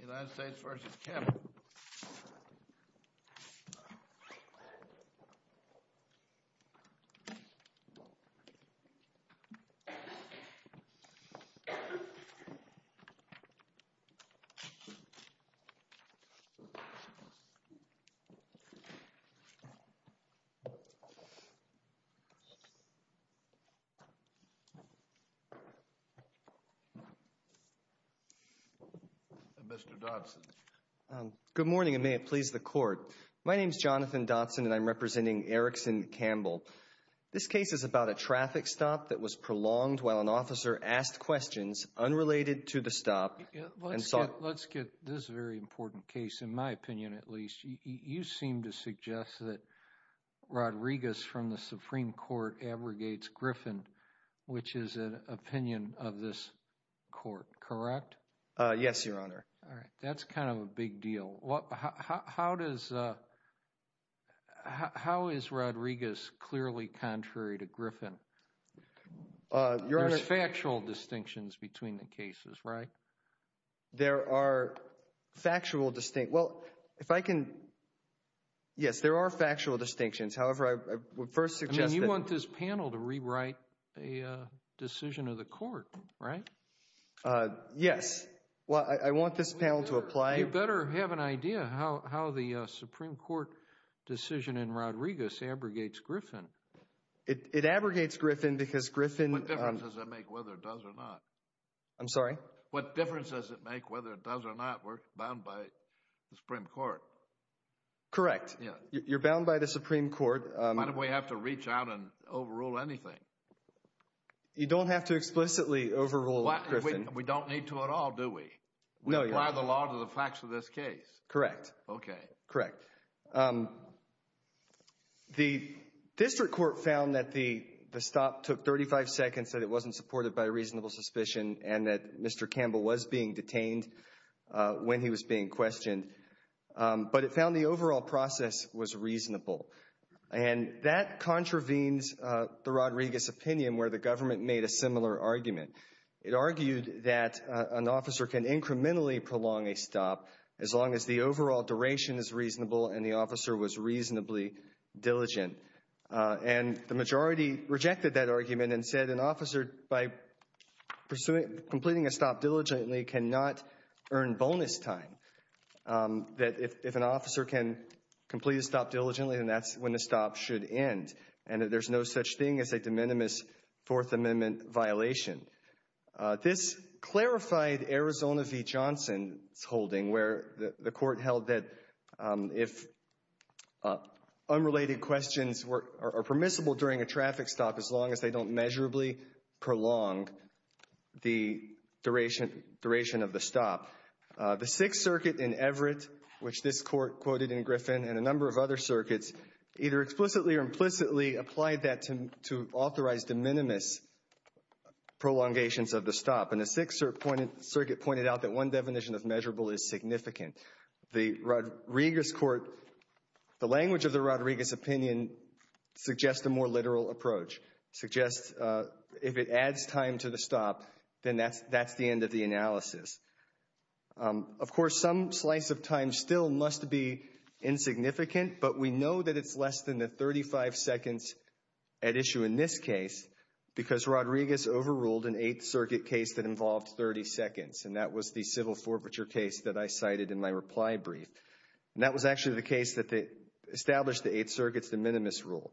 United States v. Campbell Mr. Dodson. Good morning and may it please the court. My name is Jonathan Dodson and I'm representing Erickson Campbell. This case is about a traffic stop that was prolonged while an officer asked questions unrelated to the stop. Let's get this very important case, in my opinion at least. You seem to suggest that Rodriguez from the Supreme Court abrogates Griffin, which is an opinion of this court, correct? Yes, Your Honor. That's kind of a big deal. How is Rodriguez clearly contrary to Griffin? There's factual distinctions between the cases, right? There are factual distinctions. Well, if I can... Yes, there are factual distinctions. However, I would first suggest that... I mean, you want this panel to rewrite a decision of the court, right? Yes. Well, I want this panel to apply... You better have an idea how the Supreme Court decision in Rodriguez abrogates Griffin. It abrogates Griffin because Griffin... What difference does it make whether it does or not? I'm sorry? What difference does it make whether it does or not? We're bound by the Supreme Court. Correct. You're bound by the Supreme Court. Why do we have to reach out and overrule anything? You don't have to explicitly overrule Griffin. We don't need to at all, do we? No, Your Honor. We apply the law to the facts of this case. Correct. Okay. Correct. The district court found that the stop took 35 seconds, that it wasn't supported by a reasonable suspicion, and that Mr. Campbell was being detained when he was being questioned. But it found the overall process was reasonable. And that contravenes the Rodriguez opinion where the government made a similar argument. It argued that an officer can incrementally prolong a stop as long as the overall duration is reasonable and the officer was reasonably diligent. And the majority rejected that argument and said an officer, by completing a stop diligently, cannot earn bonus time. That if an officer can complete a stop diligently, then that's when the stop should end. And that there's no such thing as a de minimis Fourth Amendment violation. This clarified Arizona v. Johnson's holding, where the court held that if unrelated questions are permissible during a traffic stop, as long as they don't measurably prolong the duration of the stop. The Sixth Circuit in Everett, which this court quoted in Griffin, and a number of other circuits either explicitly or implicitly applied that to authorize de minimis prolongations of the stop. And the Sixth Circuit pointed out that one definition of measurable is significant. The Rodriguez court, the language of the Rodriguez opinion, suggests a more literal approach. Suggests if it adds time to the stop, then that's the end of the analysis. Of course, some slice of time still must be insignificant, but we know that it's less than the 35 seconds at issue in this case because Rodriguez overruled an Eighth Circuit case that involved 30 seconds, and that was the civil forfeiture case that I cited in my reply brief. And that was actually the case that established the Eighth Circuit's de minimis rule.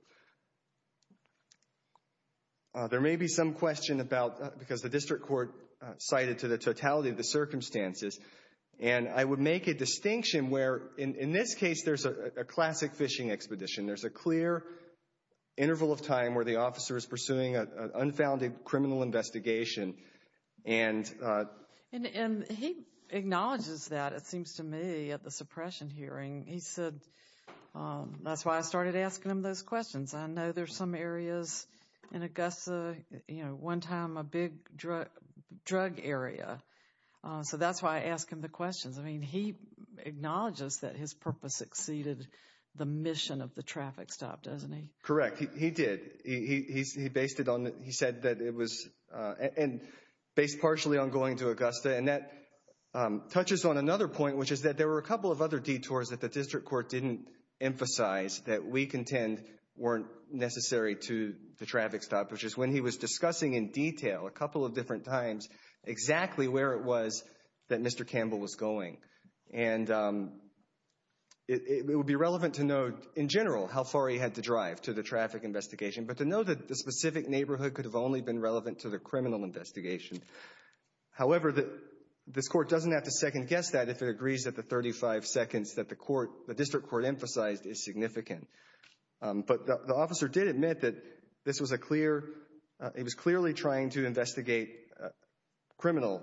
There may be some question about, because the district court cited to the totality of the circumstances, and I would make a distinction where, in this case, there's a classic fishing expedition. There's a clear interval of time where the officer is pursuing an unfounded criminal investigation. And he acknowledges that, it seems to me, at the suppression hearing. He said, that's why I started asking him those questions. I know there's some areas in Augusta, you know, one time a big drug area. So that's why I asked him the questions. I mean, he acknowledges that his purpose exceeded the mission of the traffic stop, doesn't he? Correct. He did. He said that it was based partially on going to Augusta, and that touches on another point, which is that there were a couple of other detours that the district court didn't emphasize that we contend weren't necessary to the traffic stop, which is when he was discussing in detail a couple of different times exactly where it was that Mr. Campbell was going. And it would be relevant to know, in general, how far he had to drive to the traffic investigation, but to know that the specific neighborhood could have only been relevant to the criminal investigation. However, this court doesn't have to second-guess that if it agrees that the 35 seconds that the district court emphasized is significant. But the officer did admit that this was a clear, he was clearly trying to investigate criminal,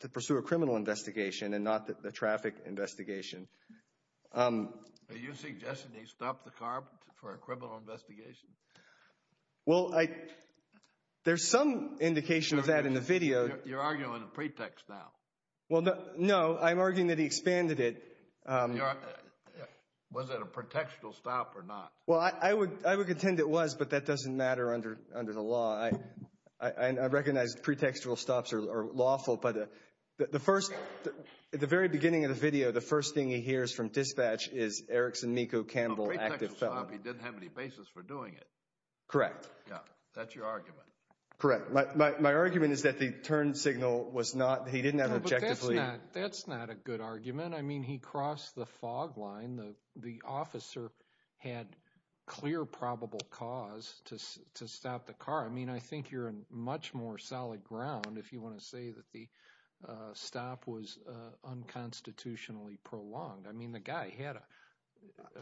to pursue a criminal investigation and not the traffic investigation. Are you suggesting he stopped the car for a criminal investigation? Well, there's some indication of that in the video. You're arguing a pretext now. Well, no, I'm arguing that he expanded it. Was it a pretextual stop or not? Well, I would contend it was, but that doesn't matter under the law. I recognize pretextual stops are lawful, but the first, at the very beginning of the video, the first thing he hears from dispatch is Erickson Meeko Campbell, active felon. A pretextual stop, he didn't have any basis for doing it. Correct. Yeah, that's your argument. Correct. My argument is that the turn signal was not, he didn't have objectively. That's not a good argument. I mean, he crossed the fog line. The officer had clear probable cause to stop the car. I mean, I think you're in much more solid ground if you want to say that the stop was unconstitutionally prolonged. I mean, the guy had a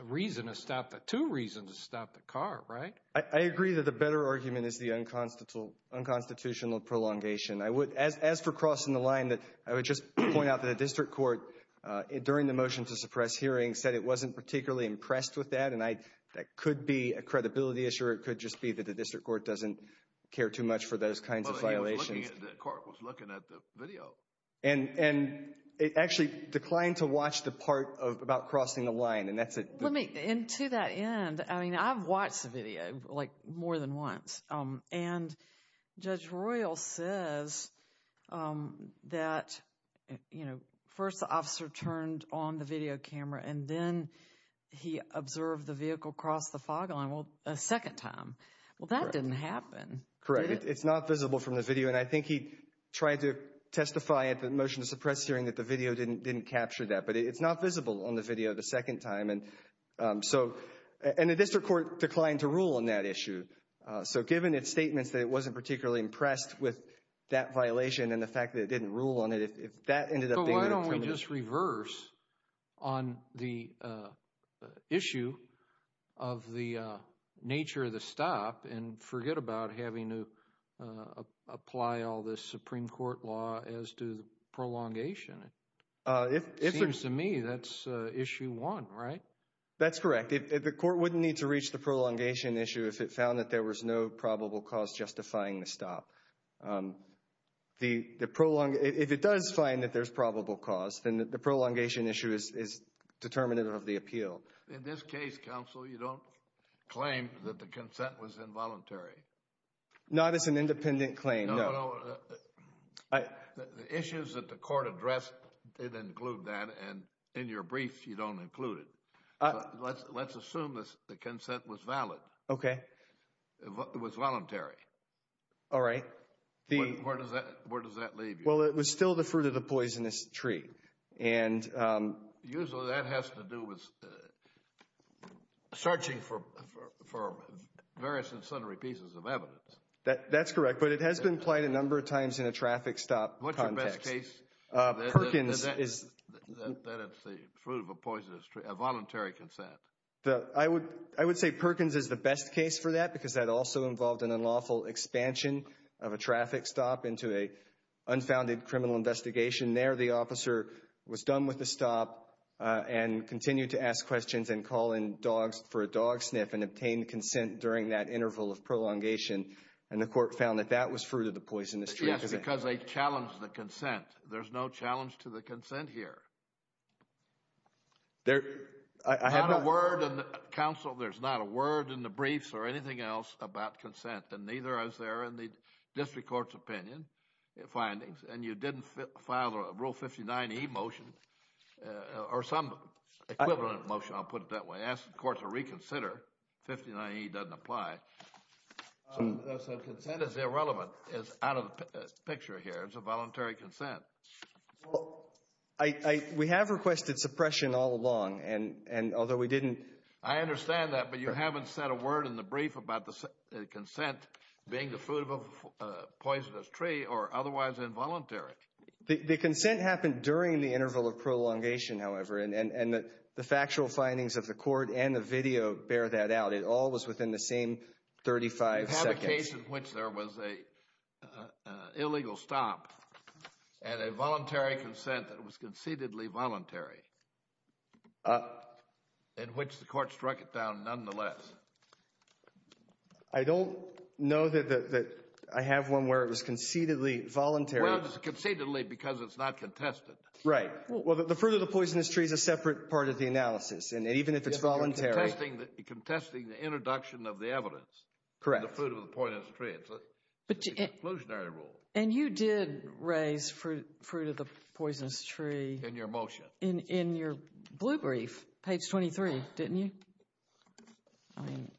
reason to stop, two reasons to stop the car, right? I agree that the better argument is the unconstitutional prolongation. As for crossing the line, I would just point out that the district court, during the motion to suppress hearing, said it wasn't particularly impressed with that, and that could be a credibility issue or it could just be that the district court doesn't care too much for those kinds of violations. But he was looking at the car, was looking at the video. And it actually declined to watch the part about crossing the line, and that's it. Let me, and to that end, I mean, I've watched the video like more than once, and Judge Royal says that, you know, first the officer turned on the video camera and then he observed the vehicle cross the fog line a second time. Well, that didn't happen. Correct. It's not visible from the video, and I think he tried to testify at the motion to suppress hearing that the video didn't capture that, but it's not visible on the video the second time. So, and the district court declined to rule on that issue. So given its statements that it wasn't particularly impressed with that violation and the fact that it didn't rule on it, if that ended up being— But why don't we just reverse on the issue of the nature of the stop and forget about having to apply all this Supreme Court law as to prolongation? It seems to me that's issue one, right? That's correct. The court wouldn't need to reach the prolongation issue if it found that there was no probable cause justifying the stop. If it does find that there's probable cause, then the prolongation issue is determinative of the appeal. In this case, counsel, you don't claim that the consent was involuntary. Not as an independent claim, no. The issues that the court addressed didn't include that, and in your brief you don't include it. Let's assume the consent was valid. Okay. It was voluntary. All right. Where does that leave you? Well, it was still the fruit of the poisonous tree, and— That's correct. But it has been implied a number of times in a traffic stop context. What's your best case? Perkins is— That it's the fruit of a poisonous tree, a voluntary consent. I would say Perkins is the best case for that because that also involved an unlawful expansion of a traffic stop into an unfounded criminal investigation. There, the officer was done with the stop and continued to ask questions and call in dogs for a dog sniff and obtain consent during that interval of prolongation, and the court found that that was fruit of the poisonous tree. Yes, because they challenged the consent. There's no challenge to the consent here. There— I have not— Not a word—counsel, there's not a word in the briefs or anything else about consent, and neither is there in the district court's opinion findings, and you didn't file a Rule 59E motion or some equivalent motion, I'll put it that way, asking the court to reconsider. 59E doesn't apply. So consent is irrelevant, is out of the picture here. It's a voluntary consent. We have requested suppression all along, and although we didn't— I understand that, but you haven't said a word in the brief about the consent being the fruit of a poisonous tree or otherwise involuntary. The consent happened during the interval of prolongation, however, and the factual findings of the court and the video bear that out. It all was within the same 35 seconds. You have a case in which there was an illegal stop and a voluntary consent that was concededly voluntary, in which the court struck it down nonetheless. I don't know that I have one where it was concededly voluntary. Well, it's concededly because it's not contested. Right. Well, the fruit of the poisonous tree is a separate part of the analysis, and even if it's voluntary— You're contesting the introduction of the evidence. Correct. The fruit of the poisonous tree. It's an exclusionary rule. And you did raise fruit of the poisonous tree— In your motion. In your blue brief, page 23, didn't you? I mean,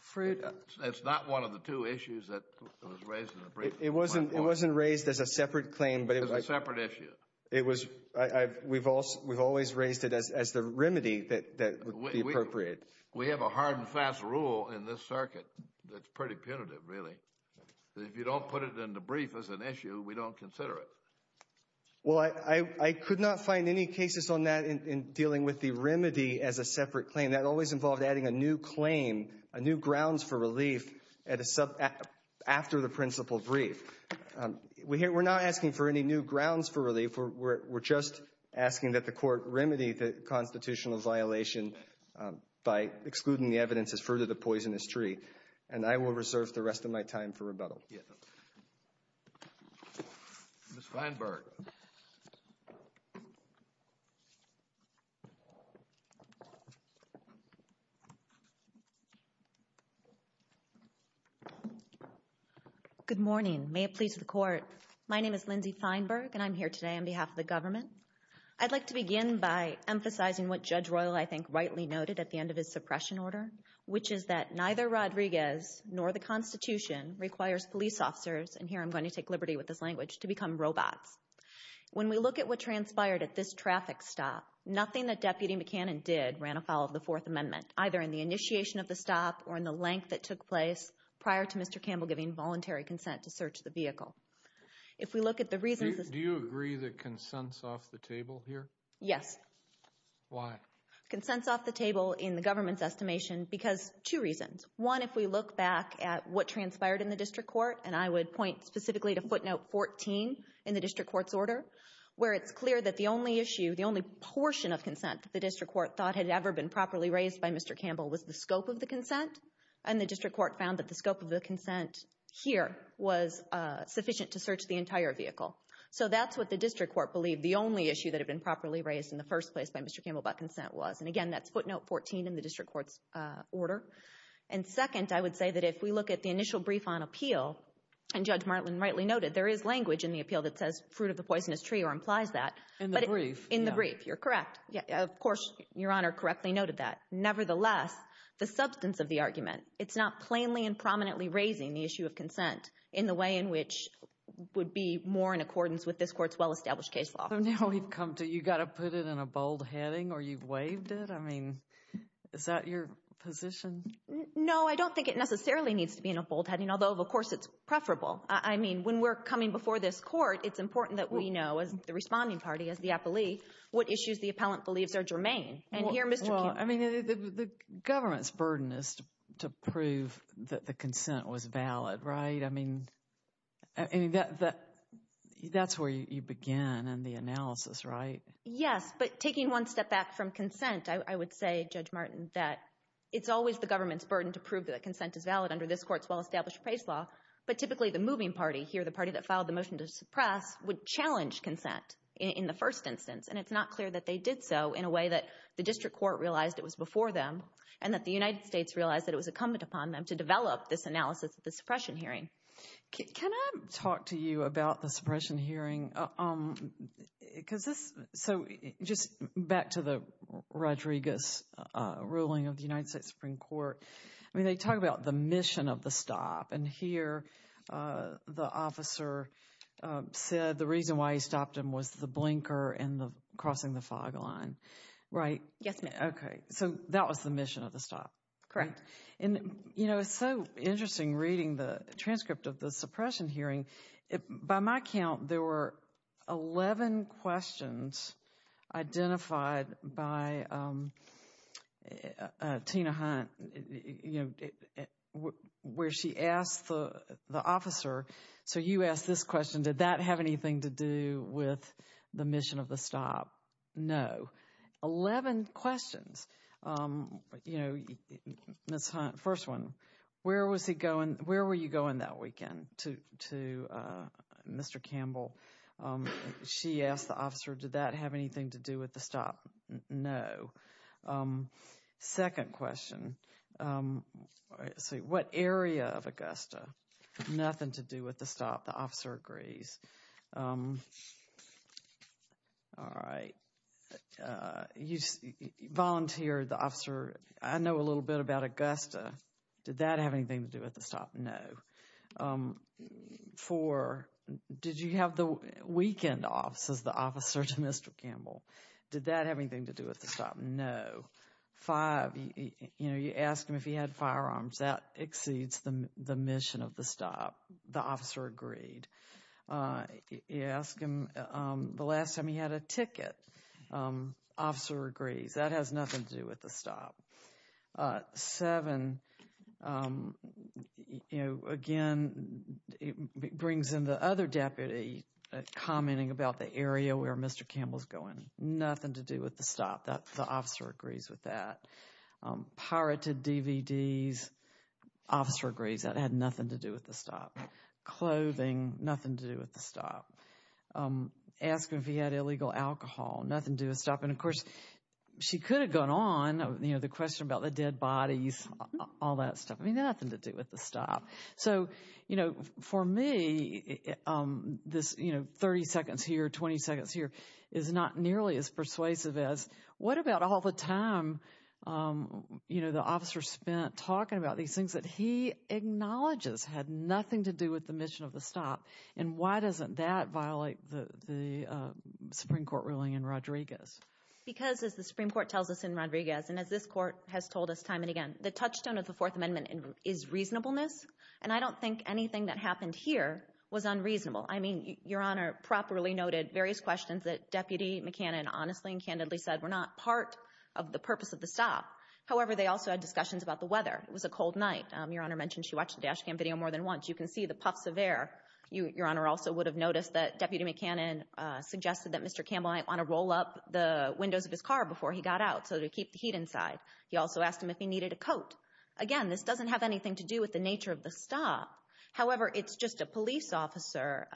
fruit— It's not one of the two issues that was raised in the brief. It wasn't raised as a separate claim, but it was— It was a separate issue. We've always raised it as the remedy that would be appropriate. We have a hard and fast rule in this circuit that's pretty punitive, really, that if you don't put it in the brief as an issue, we don't consider it. Well, I could not find any cases on that in dealing with the remedy as a separate claim. That always involved adding a new claim, a new grounds for relief, after the principal brief. We're not asking for any new grounds for relief. We're just asking that the Court remedy the constitutional violation by excluding the evidence as fruit of the poisonous tree. And I will reserve the rest of my time for rebuttal. Thank you. Ms. Feinberg. Good morning. May it please the Court. My name is Lindsay Feinberg, and I'm here today on behalf of the government. I'd like to begin by emphasizing what Judge Royal, I think, rightly noted at the end of his suppression order, which is that neither Rodriguez nor the Constitution requires police officers, and here I'm going to take liberty with this language, to become robots. When we look at what transpired at this traffic stop, nothing that Deputy McCannon did ran afoul of the Fourth Amendment, either in the initiation of the stop or in the length that took place prior to Mr. Campbell giving voluntary consent to search the vehicle. If we look at the reasons— Do you agree that consent's off the table here? Yes. Why? Consent's off the table in the government's estimation because two reasons. One, if we look back at what transpired in the district court, and I would point specifically to footnote 14 in the district court's order, where it's clear that the only issue, the only portion of consent the district court thought had ever been properly raised by Mr. Campbell was the scope of the consent, and the district court found that the scope of the consent here was sufficient to search the entire vehicle. So that's what the district court believed the only issue that had been properly raised in the first place by Mr. Campbell about consent was. And again, that's footnote 14 in the district court's order. And second, I would say that if we look at the initial brief on appeal, and Judge Martland rightly noted there is language in the appeal that says fruit of the poisonous tree or implies that. In the brief. In the brief, you're correct. Of course, Your Honor correctly noted that. Nevertheless, the substance of the argument, it's not plainly and prominently raising the issue of consent in the way in which would be more in accordance with this court's well-established case law. So now we've come to you've got to put it in a bold heading or you've waived it. I mean, is that your position? No, I don't think it necessarily needs to be in a bold heading, although, of course, it's preferable. I mean, when we're coming before this court, it's important that we know, as the responding party, as the appellee, what issues the appellant believes are germane. Well, I mean, the government's burden is to prove that the consent was valid, right? I mean, that's where you begin in the analysis, right? Yes, but taking one step back from consent, I would say, Judge Martin, that it's always the government's burden to prove that consent is valid under this court's well-established case law. But typically the moving party here, the party that filed the motion to suppress, would challenge consent in the first instance. And it's not clear that they did so in a way that the district court realized it was before them and that the United States realized that it was incumbent upon them to develop this analysis of the suppression hearing. Can I talk to you about the suppression hearing? So just back to the Rodriguez ruling of the United States Supreme Court. I mean, they talk about the mission of the stop. And here the officer said the reason why he stopped him was the blinker and crossing the fog line, right? Yes, ma'am. Okay. So that was the mission of the stop. Correct. And, you know, it's so interesting reading the transcript of the suppression hearing. By my count, there were 11 questions identified by Tina Hunt, you know, where she asked the officer, so you asked this question, did that have anything to do with the mission of the stop? No. So 11 questions. You know, Ms. Hunt, first one, where was he going? Where were you going that weekend to Mr. Campbell? She asked the officer, did that have anything to do with the stop? No. Second question, what area of Augusta? Nothing to do with the stop. The officer agrees. All right. Volunteer, the officer, I know a little bit about Augusta. Did that have anything to do with the stop? No. Four, did you have the weekend off as the officer to Mr. Campbell? Did that have anything to do with the stop? No. Five, you know, you asked him if he had firearms. That exceeds the mission of the stop. The officer agreed. You asked him the last time he had a ticket. Officer agrees. That has nothing to do with the stop. Seven, you know, again, it brings in the other deputy, commenting about the area where Mr. Campbell is going. Nothing to do with the stop. The officer agrees with that. Pirated DVDs. Officer agrees. That had nothing to do with the stop. Clothing, nothing to do with the stop. Asked him if he had illegal alcohol. Nothing to do with the stop. And, of course, she could have gone on, you know, the question about the dead bodies, all that stuff. I mean, nothing to do with the stop. So, you know, for me, this, you know, 30 seconds here, 20 seconds here, is not nearly as persuasive as what about all the time, you know, the officer spent talking about these things that he acknowledges had nothing to do with the mission of the stop. And why doesn't that violate the Supreme Court ruling in Rodriguez? Because, as the Supreme Court tells us in Rodriguez, and as this court has told us time and again, the touchstone of the Fourth Amendment is reasonableness. And I don't think anything that happened here was unreasonable. I mean, Your Honor, properly noted various questions that Deputy McCannon honestly and candidly said were not part of the purpose of the stop. However, they also had discussions about the weather. It was a cold night. Your Honor mentioned she watched the dash cam video more than once. You can see the puffs of air. Your Honor also would have noticed that Deputy McCannon suggested that Mr. Campbell might want to roll up the windows of his car before he got out so that he could keep the heat inside. He also asked him if he needed a coat. Again, this doesn't have anything to do with the nature of the stop. However, it's just a police officer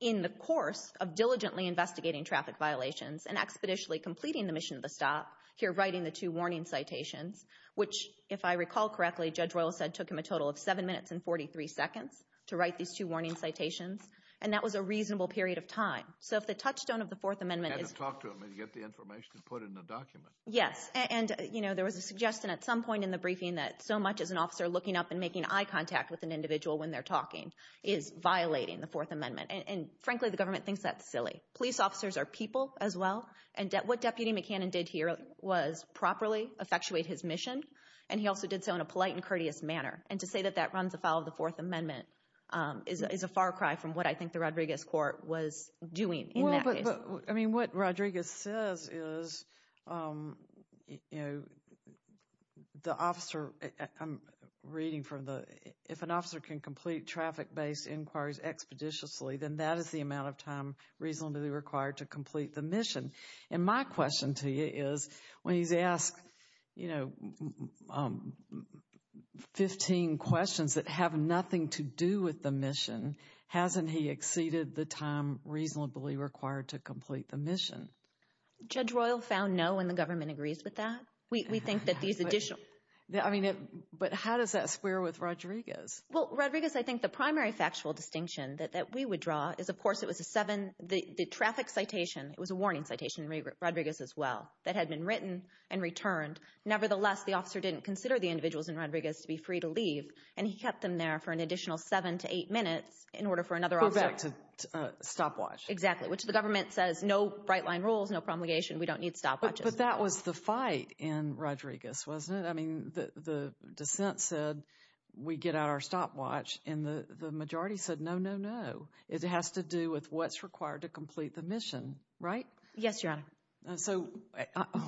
in the course of diligently investigating traffic violations and expeditiously completing the mission of the stop, here writing the two warning citations, which, if I recall correctly, Judge Royal said took him a total of seven minutes and 43 seconds to write these two warning citations. And that was a reasonable period of time. So if the touchstone of the Fourth Amendment is – Had to talk to him to get the information to put in the document. Yes. And, you know, there was a suggestion at some point in the briefing that so much as an officer looking up and making eye contact with an individual when they're talking is violating the Fourth Amendment. And, frankly, the government thinks that's silly. Police officers are people as well. And what Deputy McCannon did here was properly effectuate his mission, and he also did so in a polite and courteous manner. And to say that that runs afoul of the Fourth Amendment is a far cry from what I think the Rodriguez court was doing in that case. Well, but, I mean, what Rodriguez says is, you know, the officer – I'm reading from the – If an officer can complete traffic-based inquiries expeditiously, then that is the amount of time reasonably required to complete the mission. And my question to you is, when he's asked, you know, 15 questions that have nothing to do with the mission, hasn't he exceeded the time reasonably required to complete the mission? Judge Royal found no, and the government agrees with that. We think that these additional – I mean, but how does that square with Rodriguez? Well, Rodriguez, I think the primary factual distinction that we would draw is, of course, it was a seven – the traffic citation, it was a warning citation in Rodriguez as well, that had been written and returned. Nevertheless, the officer didn't consider the individuals in Rodriguez to be free to leave, and he kept them there for an additional seven to eight minutes in order for another officer – To go back to stopwatch. Exactly, which the government says no bright-line rules, no promulgation. We don't need stopwatches. But that was the fight in Rodriguez, wasn't it? I mean, the dissent said we get out our stopwatch, and the majority said no, no, no. It has to do with what's required to complete the mission, right? Yes, Your Honor. So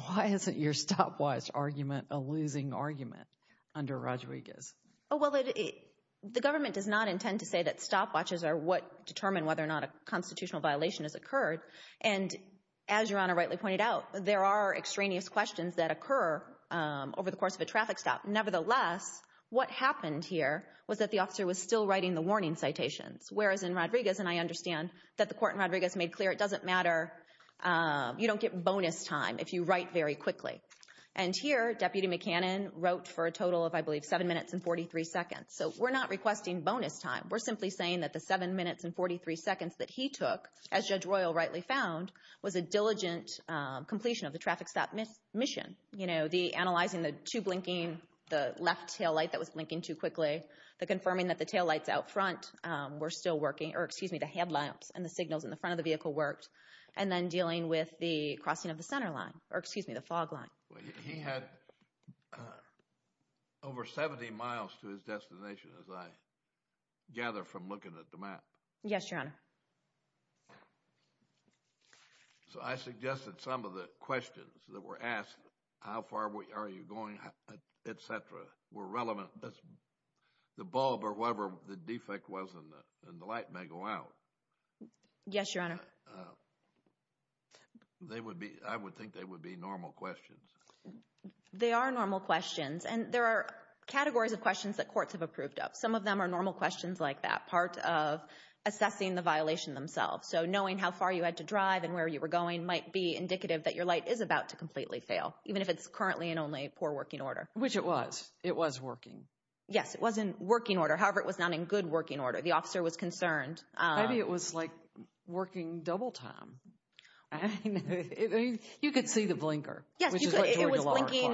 why isn't your stopwatch argument a losing argument under Rodriguez? Well, the government does not intend to say that stopwatches are what determine whether or not a constitutional violation has occurred. And as Your Honor rightly pointed out, there are extraneous questions that occur over the course of a traffic stop. Nevertheless, what happened here was that the officer was still writing the warning citations, whereas in Rodriguez – and I understand that the court in Rodriguez made clear it doesn't matter, you don't get bonus time if you write very quickly. And here, Deputy McCannon wrote for a total of, I believe, seven minutes and 43 seconds. So we're not requesting bonus time. We're simply saying that the seven minutes and 43 seconds that he took, as Judge Royal rightly found, was a diligent completion of the traffic stop mission. You know, the analyzing the two blinking, the left taillight that was blinking too quickly, the confirming that the taillights out front were still working, or excuse me, the headlamps and the signals in the front of the vehicle worked, and then dealing with the crossing of the center line, or excuse me, the fog line. He had over 70 miles to his destination as I gather from looking at the map. Yes, Your Honor. So I suggested some of the questions that were asked, how far are you going, et cetera, were relevant. The bulb or whatever the defect was in the light may go out. Yes, Your Honor. They would be – I would think they would be normal questions. They are normal questions, and there are categories of questions that courts have approved of. Some of them are normal questions like that, part of assessing the violation themselves. So knowing how far you had to drive and where you were going might be indicative that your light is about to completely fail, even if it's currently in only poor working order. Which it was. It was working. Yes, it was in working order. However, it was not in good working order. The officer was concerned. Maybe it was, like, working double time. I mean, you could see the blinker. Yes, you could. It was blinking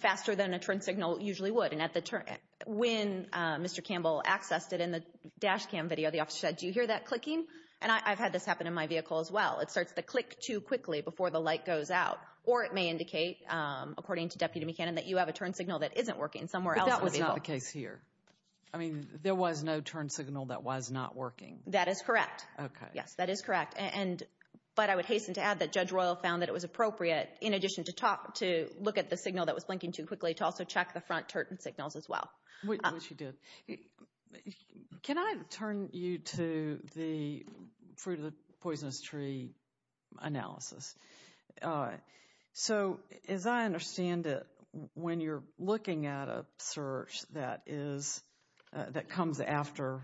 faster than a turn signal usually would. When Mr. Campbell accessed it in the dash cam video, the officer said, do you hear that clicking? And I've had this happen in my vehicle as well. It starts to click too quickly before the light goes out. Or it may indicate, according to Deputy McCannon, that you have a turn signal that isn't working somewhere else. But that was not the case here. I mean, there was no turn signal that was not working. That is correct. Okay. Yes, that is correct. But I would hasten to add that Judge Royal found that it was appropriate, in addition to look at the signal that was blinking too quickly, to also check the front turn signals as well. Which he did. Can I turn you to the Fruit of the Poisonous Tree analysis? So, as I understand it, when you're looking at a search that comes after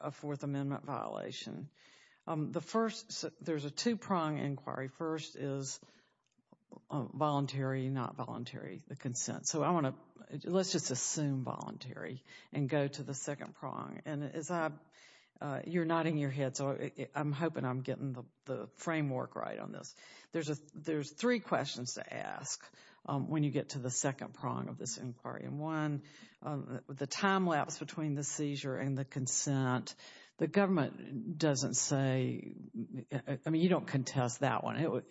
a Fourth Amendment violation, there's a two-prong inquiry. First is voluntary, not voluntary, the consent. So let's just assume voluntary and go to the second prong. And you're nodding your head, so I'm hoping I'm getting the framework right on this. There's three questions to ask when you get to the second prong of this inquiry. One, the time lapse between the seizure and the consent. The government doesn't say, I mean, you don't contest that one.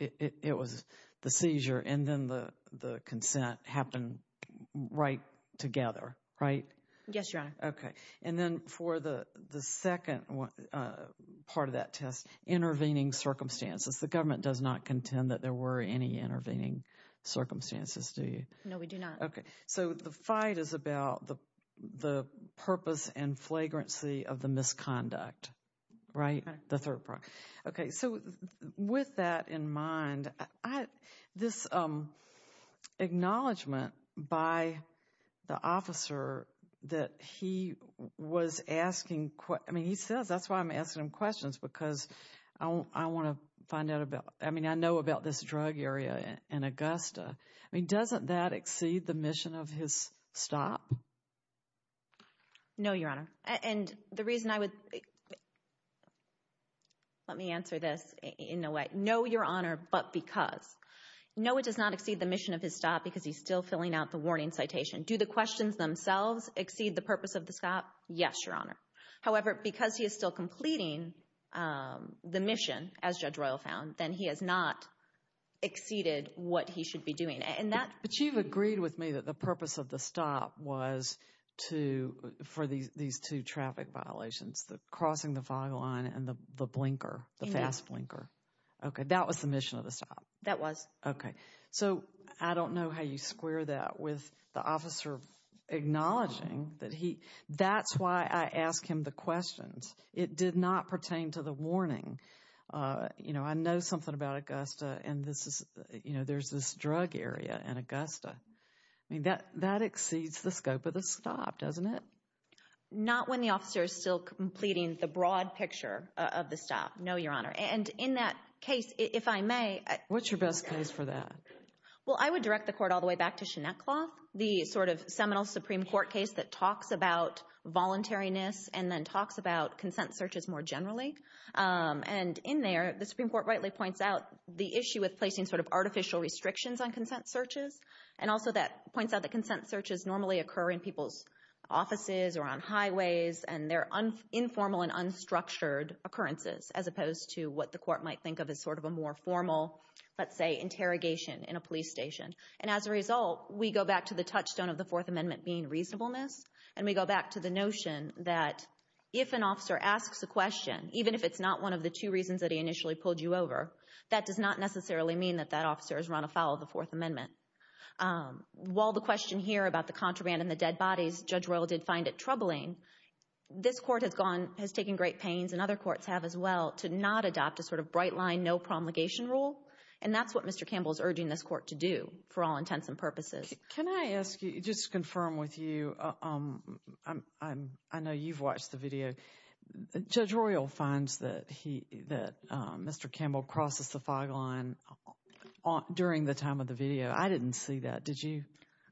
It was the seizure and then the consent happened right together, right? Yes, Your Honor. Okay. And then for the second part of that test, intervening circumstances. The government does not contend that there were any intervening circumstances, do you? No, we do not. Okay, so the fight is about the purpose and flagrancy of the misconduct, right? The third prong. Okay, so with that in mind, this acknowledgment by the officer that he was asking, I mean, he says that's why I'm asking him questions because I want to find out about, I mean, I know about this drug area in Augusta. I mean, doesn't that exceed the mission of his stop? No, Your Honor. And the reason I would, let me answer this in a way. No, Your Honor, but because. No, it does not exceed the mission of his stop because he's still filling out the warning citation. Do the questions themselves exceed the purpose of the stop? Yes, Your Honor. However, because he is still completing the mission, as Judge Royal found, then he has not exceeded what he should be doing. But you've agreed with me that the purpose of the stop was for these two traffic violations, the crossing the fog line and the blinker, the fast blinker. Okay, that was the mission of the stop? That was. Okay, so I don't know how you square that with the officer acknowledging that he, that's why I ask him the questions. It did not pertain to the warning. You know, I know something about Augusta and this is, you know, there's this drug area in Augusta. I mean, that exceeds the scope of the stop, doesn't it? Not when the officer is still completing the broad picture of the stop, no, Your Honor. And in that case, if I may. What's your best case for that? Well, I would direct the court all the way back to Chenette Cloth, the sort of seminal Supreme Court case that talks about voluntariness and then talks about consent searches more generally. And in there, the Supreme Court rightly points out the issue with placing sort of artificial restrictions on consent searches. And also that points out that consent searches normally occur in people's offices or on highways and they're informal and unstructured occurrences, as opposed to what the court might think of as sort of a more formal, let's say, interrogation in a police station. And as a result, we go back to the touchstone of the Fourth Amendment being reasonableness, and we go back to the notion that if an officer asks a question, even if it's not one of the two reasons that he initially pulled you over, that does not necessarily mean that that officer has run afoul of the Fourth Amendment. While the question here about the contraband and the dead bodies, Judge Royal did find it troubling, this court has taken great pains, and other courts have as well, to not adopt a sort of bright line, no promulgation rule, and that's what Mr. Campbell is urging this court to do for all intents and purposes. Can I ask you, just to confirm with you, I know you've watched the video. Judge Royal finds that Mr. Campbell crosses the fog line during the time of the video. I didn't see that. Did you?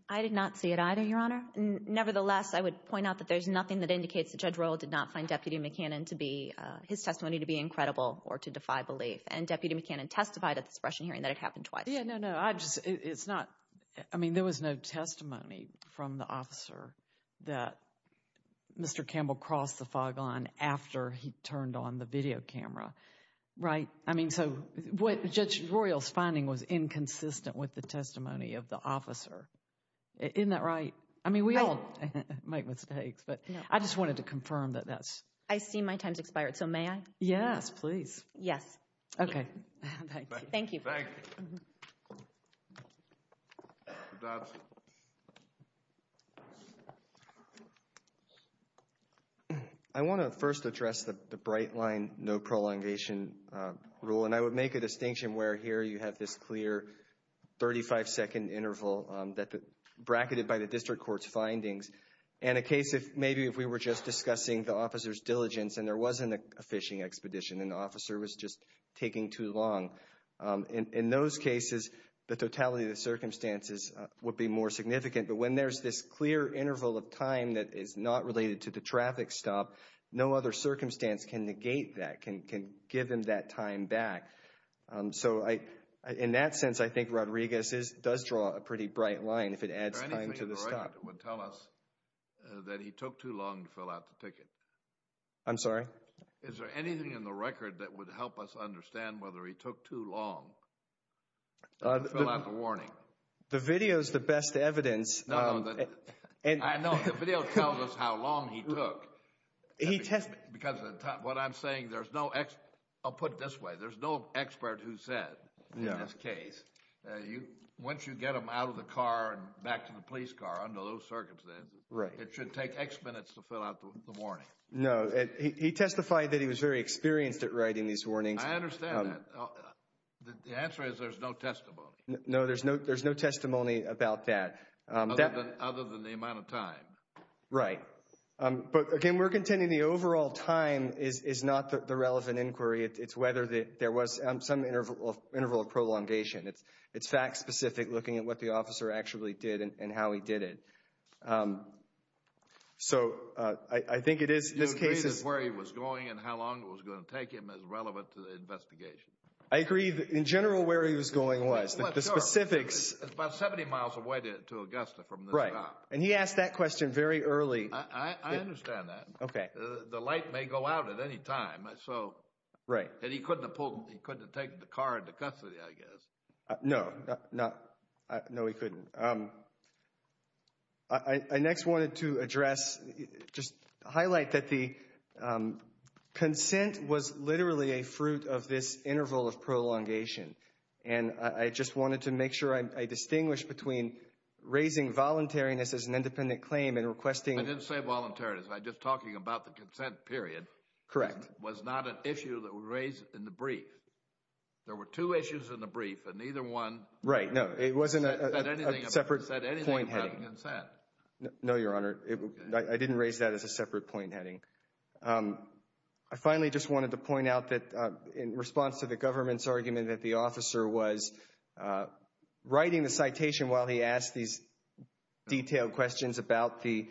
I did not see it either, Your Honor. Nevertheless, I would point out that there's nothing that indicates that Judge Royal did not find his testimony to be incredible or to defy belief. And Deputy McCannon testified at the suppression hearing that it happened twice. Yeah, no, no, I just, it's not, I mean, there was no testimony from the officer that Mr. Campbell crossed the fog line after he turned on the video camera, right? I mean, so what Judge Royal's finding was inconsistent with the testimony of the officer. Isn't that right? I mean, we all make mistakes, but I just wanted to confirm that that's... I see my time's expired, so may I? Yes, please. Yes. Okay. Thank you. Thank you. I want to first address the bright line, no prolongation rule, and I would make a distinction where here you have this clear 35-second interval that bracketed by the district court's findings. In a case, maybe if we were just discussing the officer's diligence and there wasn't a phishing expedition and the officer was just taking too long in those cases, the totality of the circumstances would be more significant. But when there's this clear interval of time that is not related to the traffic stop, no other circumstance can negate that, can give him that time back. So in that sense, I think Rodriguez does draw a pretty bright line if it adds time to the stop. Is there anything in the record that would tell us that he took too long to fill out the ticket? I'm sorry? Is there anything in the record that would help us understand whether he took too long to fill out the warning? The video is the best evidence. No, no. The video tells us how long he took. Because what I'm saying, there's no expert. I'll put it this way. There's no expert who said in this case, once you get him out of the car and back to the police car under those circumstances, it should take X minutes to fill out the warning. No. He testified that he was very experienced at writing these warnings. I understand that. The answer is there's no testimony. No, there's no testimony about that. Other than the amount of time. Right. But, again, we're contending the overall time is not the relevant inquiry. It's whether there was some interval of prolongation. It's fact-specific, looking at what the officer actually did and how he did it. So, I think it is in this case. You agree that where he was going and how long it was going to take him is relevant to the investigation. I agree. In general, where he was going was. Well, sure. The specifics. It's about 70 miles away to Augusta from this stop. Right. And he asked that question very early. I understand that. Okay. The light may go out at any time. Right. And he couldn't have taken the car into custody, I guess. No. No, he couldn't. I next wanted to address, just highlight that the consent was literally a fruit of this interval of prolongation. And I just wanted to make sure I distinguish between raising voluntariness as an independent claim and requesting. I didn't say voluntariness. I'm just talking about the consent period. Correct. It was not an issue that was raised in the brief. There were two issues in the brief and neither one. Right. No, it wasn't a separate point. Said anything about the consent. No, Your Honor. I didn't raise that as a separate point heading. I finally just wanted to point out that in response to the government's argument that the officer was writing the citation while he asked these detailed questions about the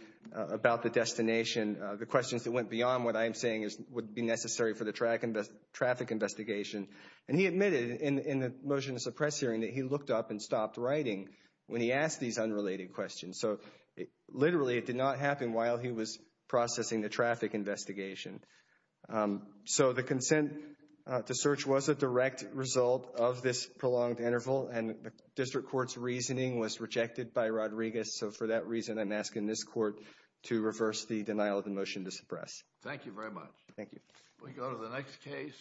destination, the questions that went beyond what I am saying would be necessary for the traffic investigation. And he admitted in the motion to suppress hearing that he looked up and stopped writing when he asked these unrelated questions. So literally it did not happen while he was processing the traffic investigation. So the consent to search was a direct result of this prolonged interval. And the district court's reasoning was rejected by Rodriguez. So for that reason, I'm asking this court to reverse the denial of the motion to suppress. Thank you very much. Thank you. We go to the next case.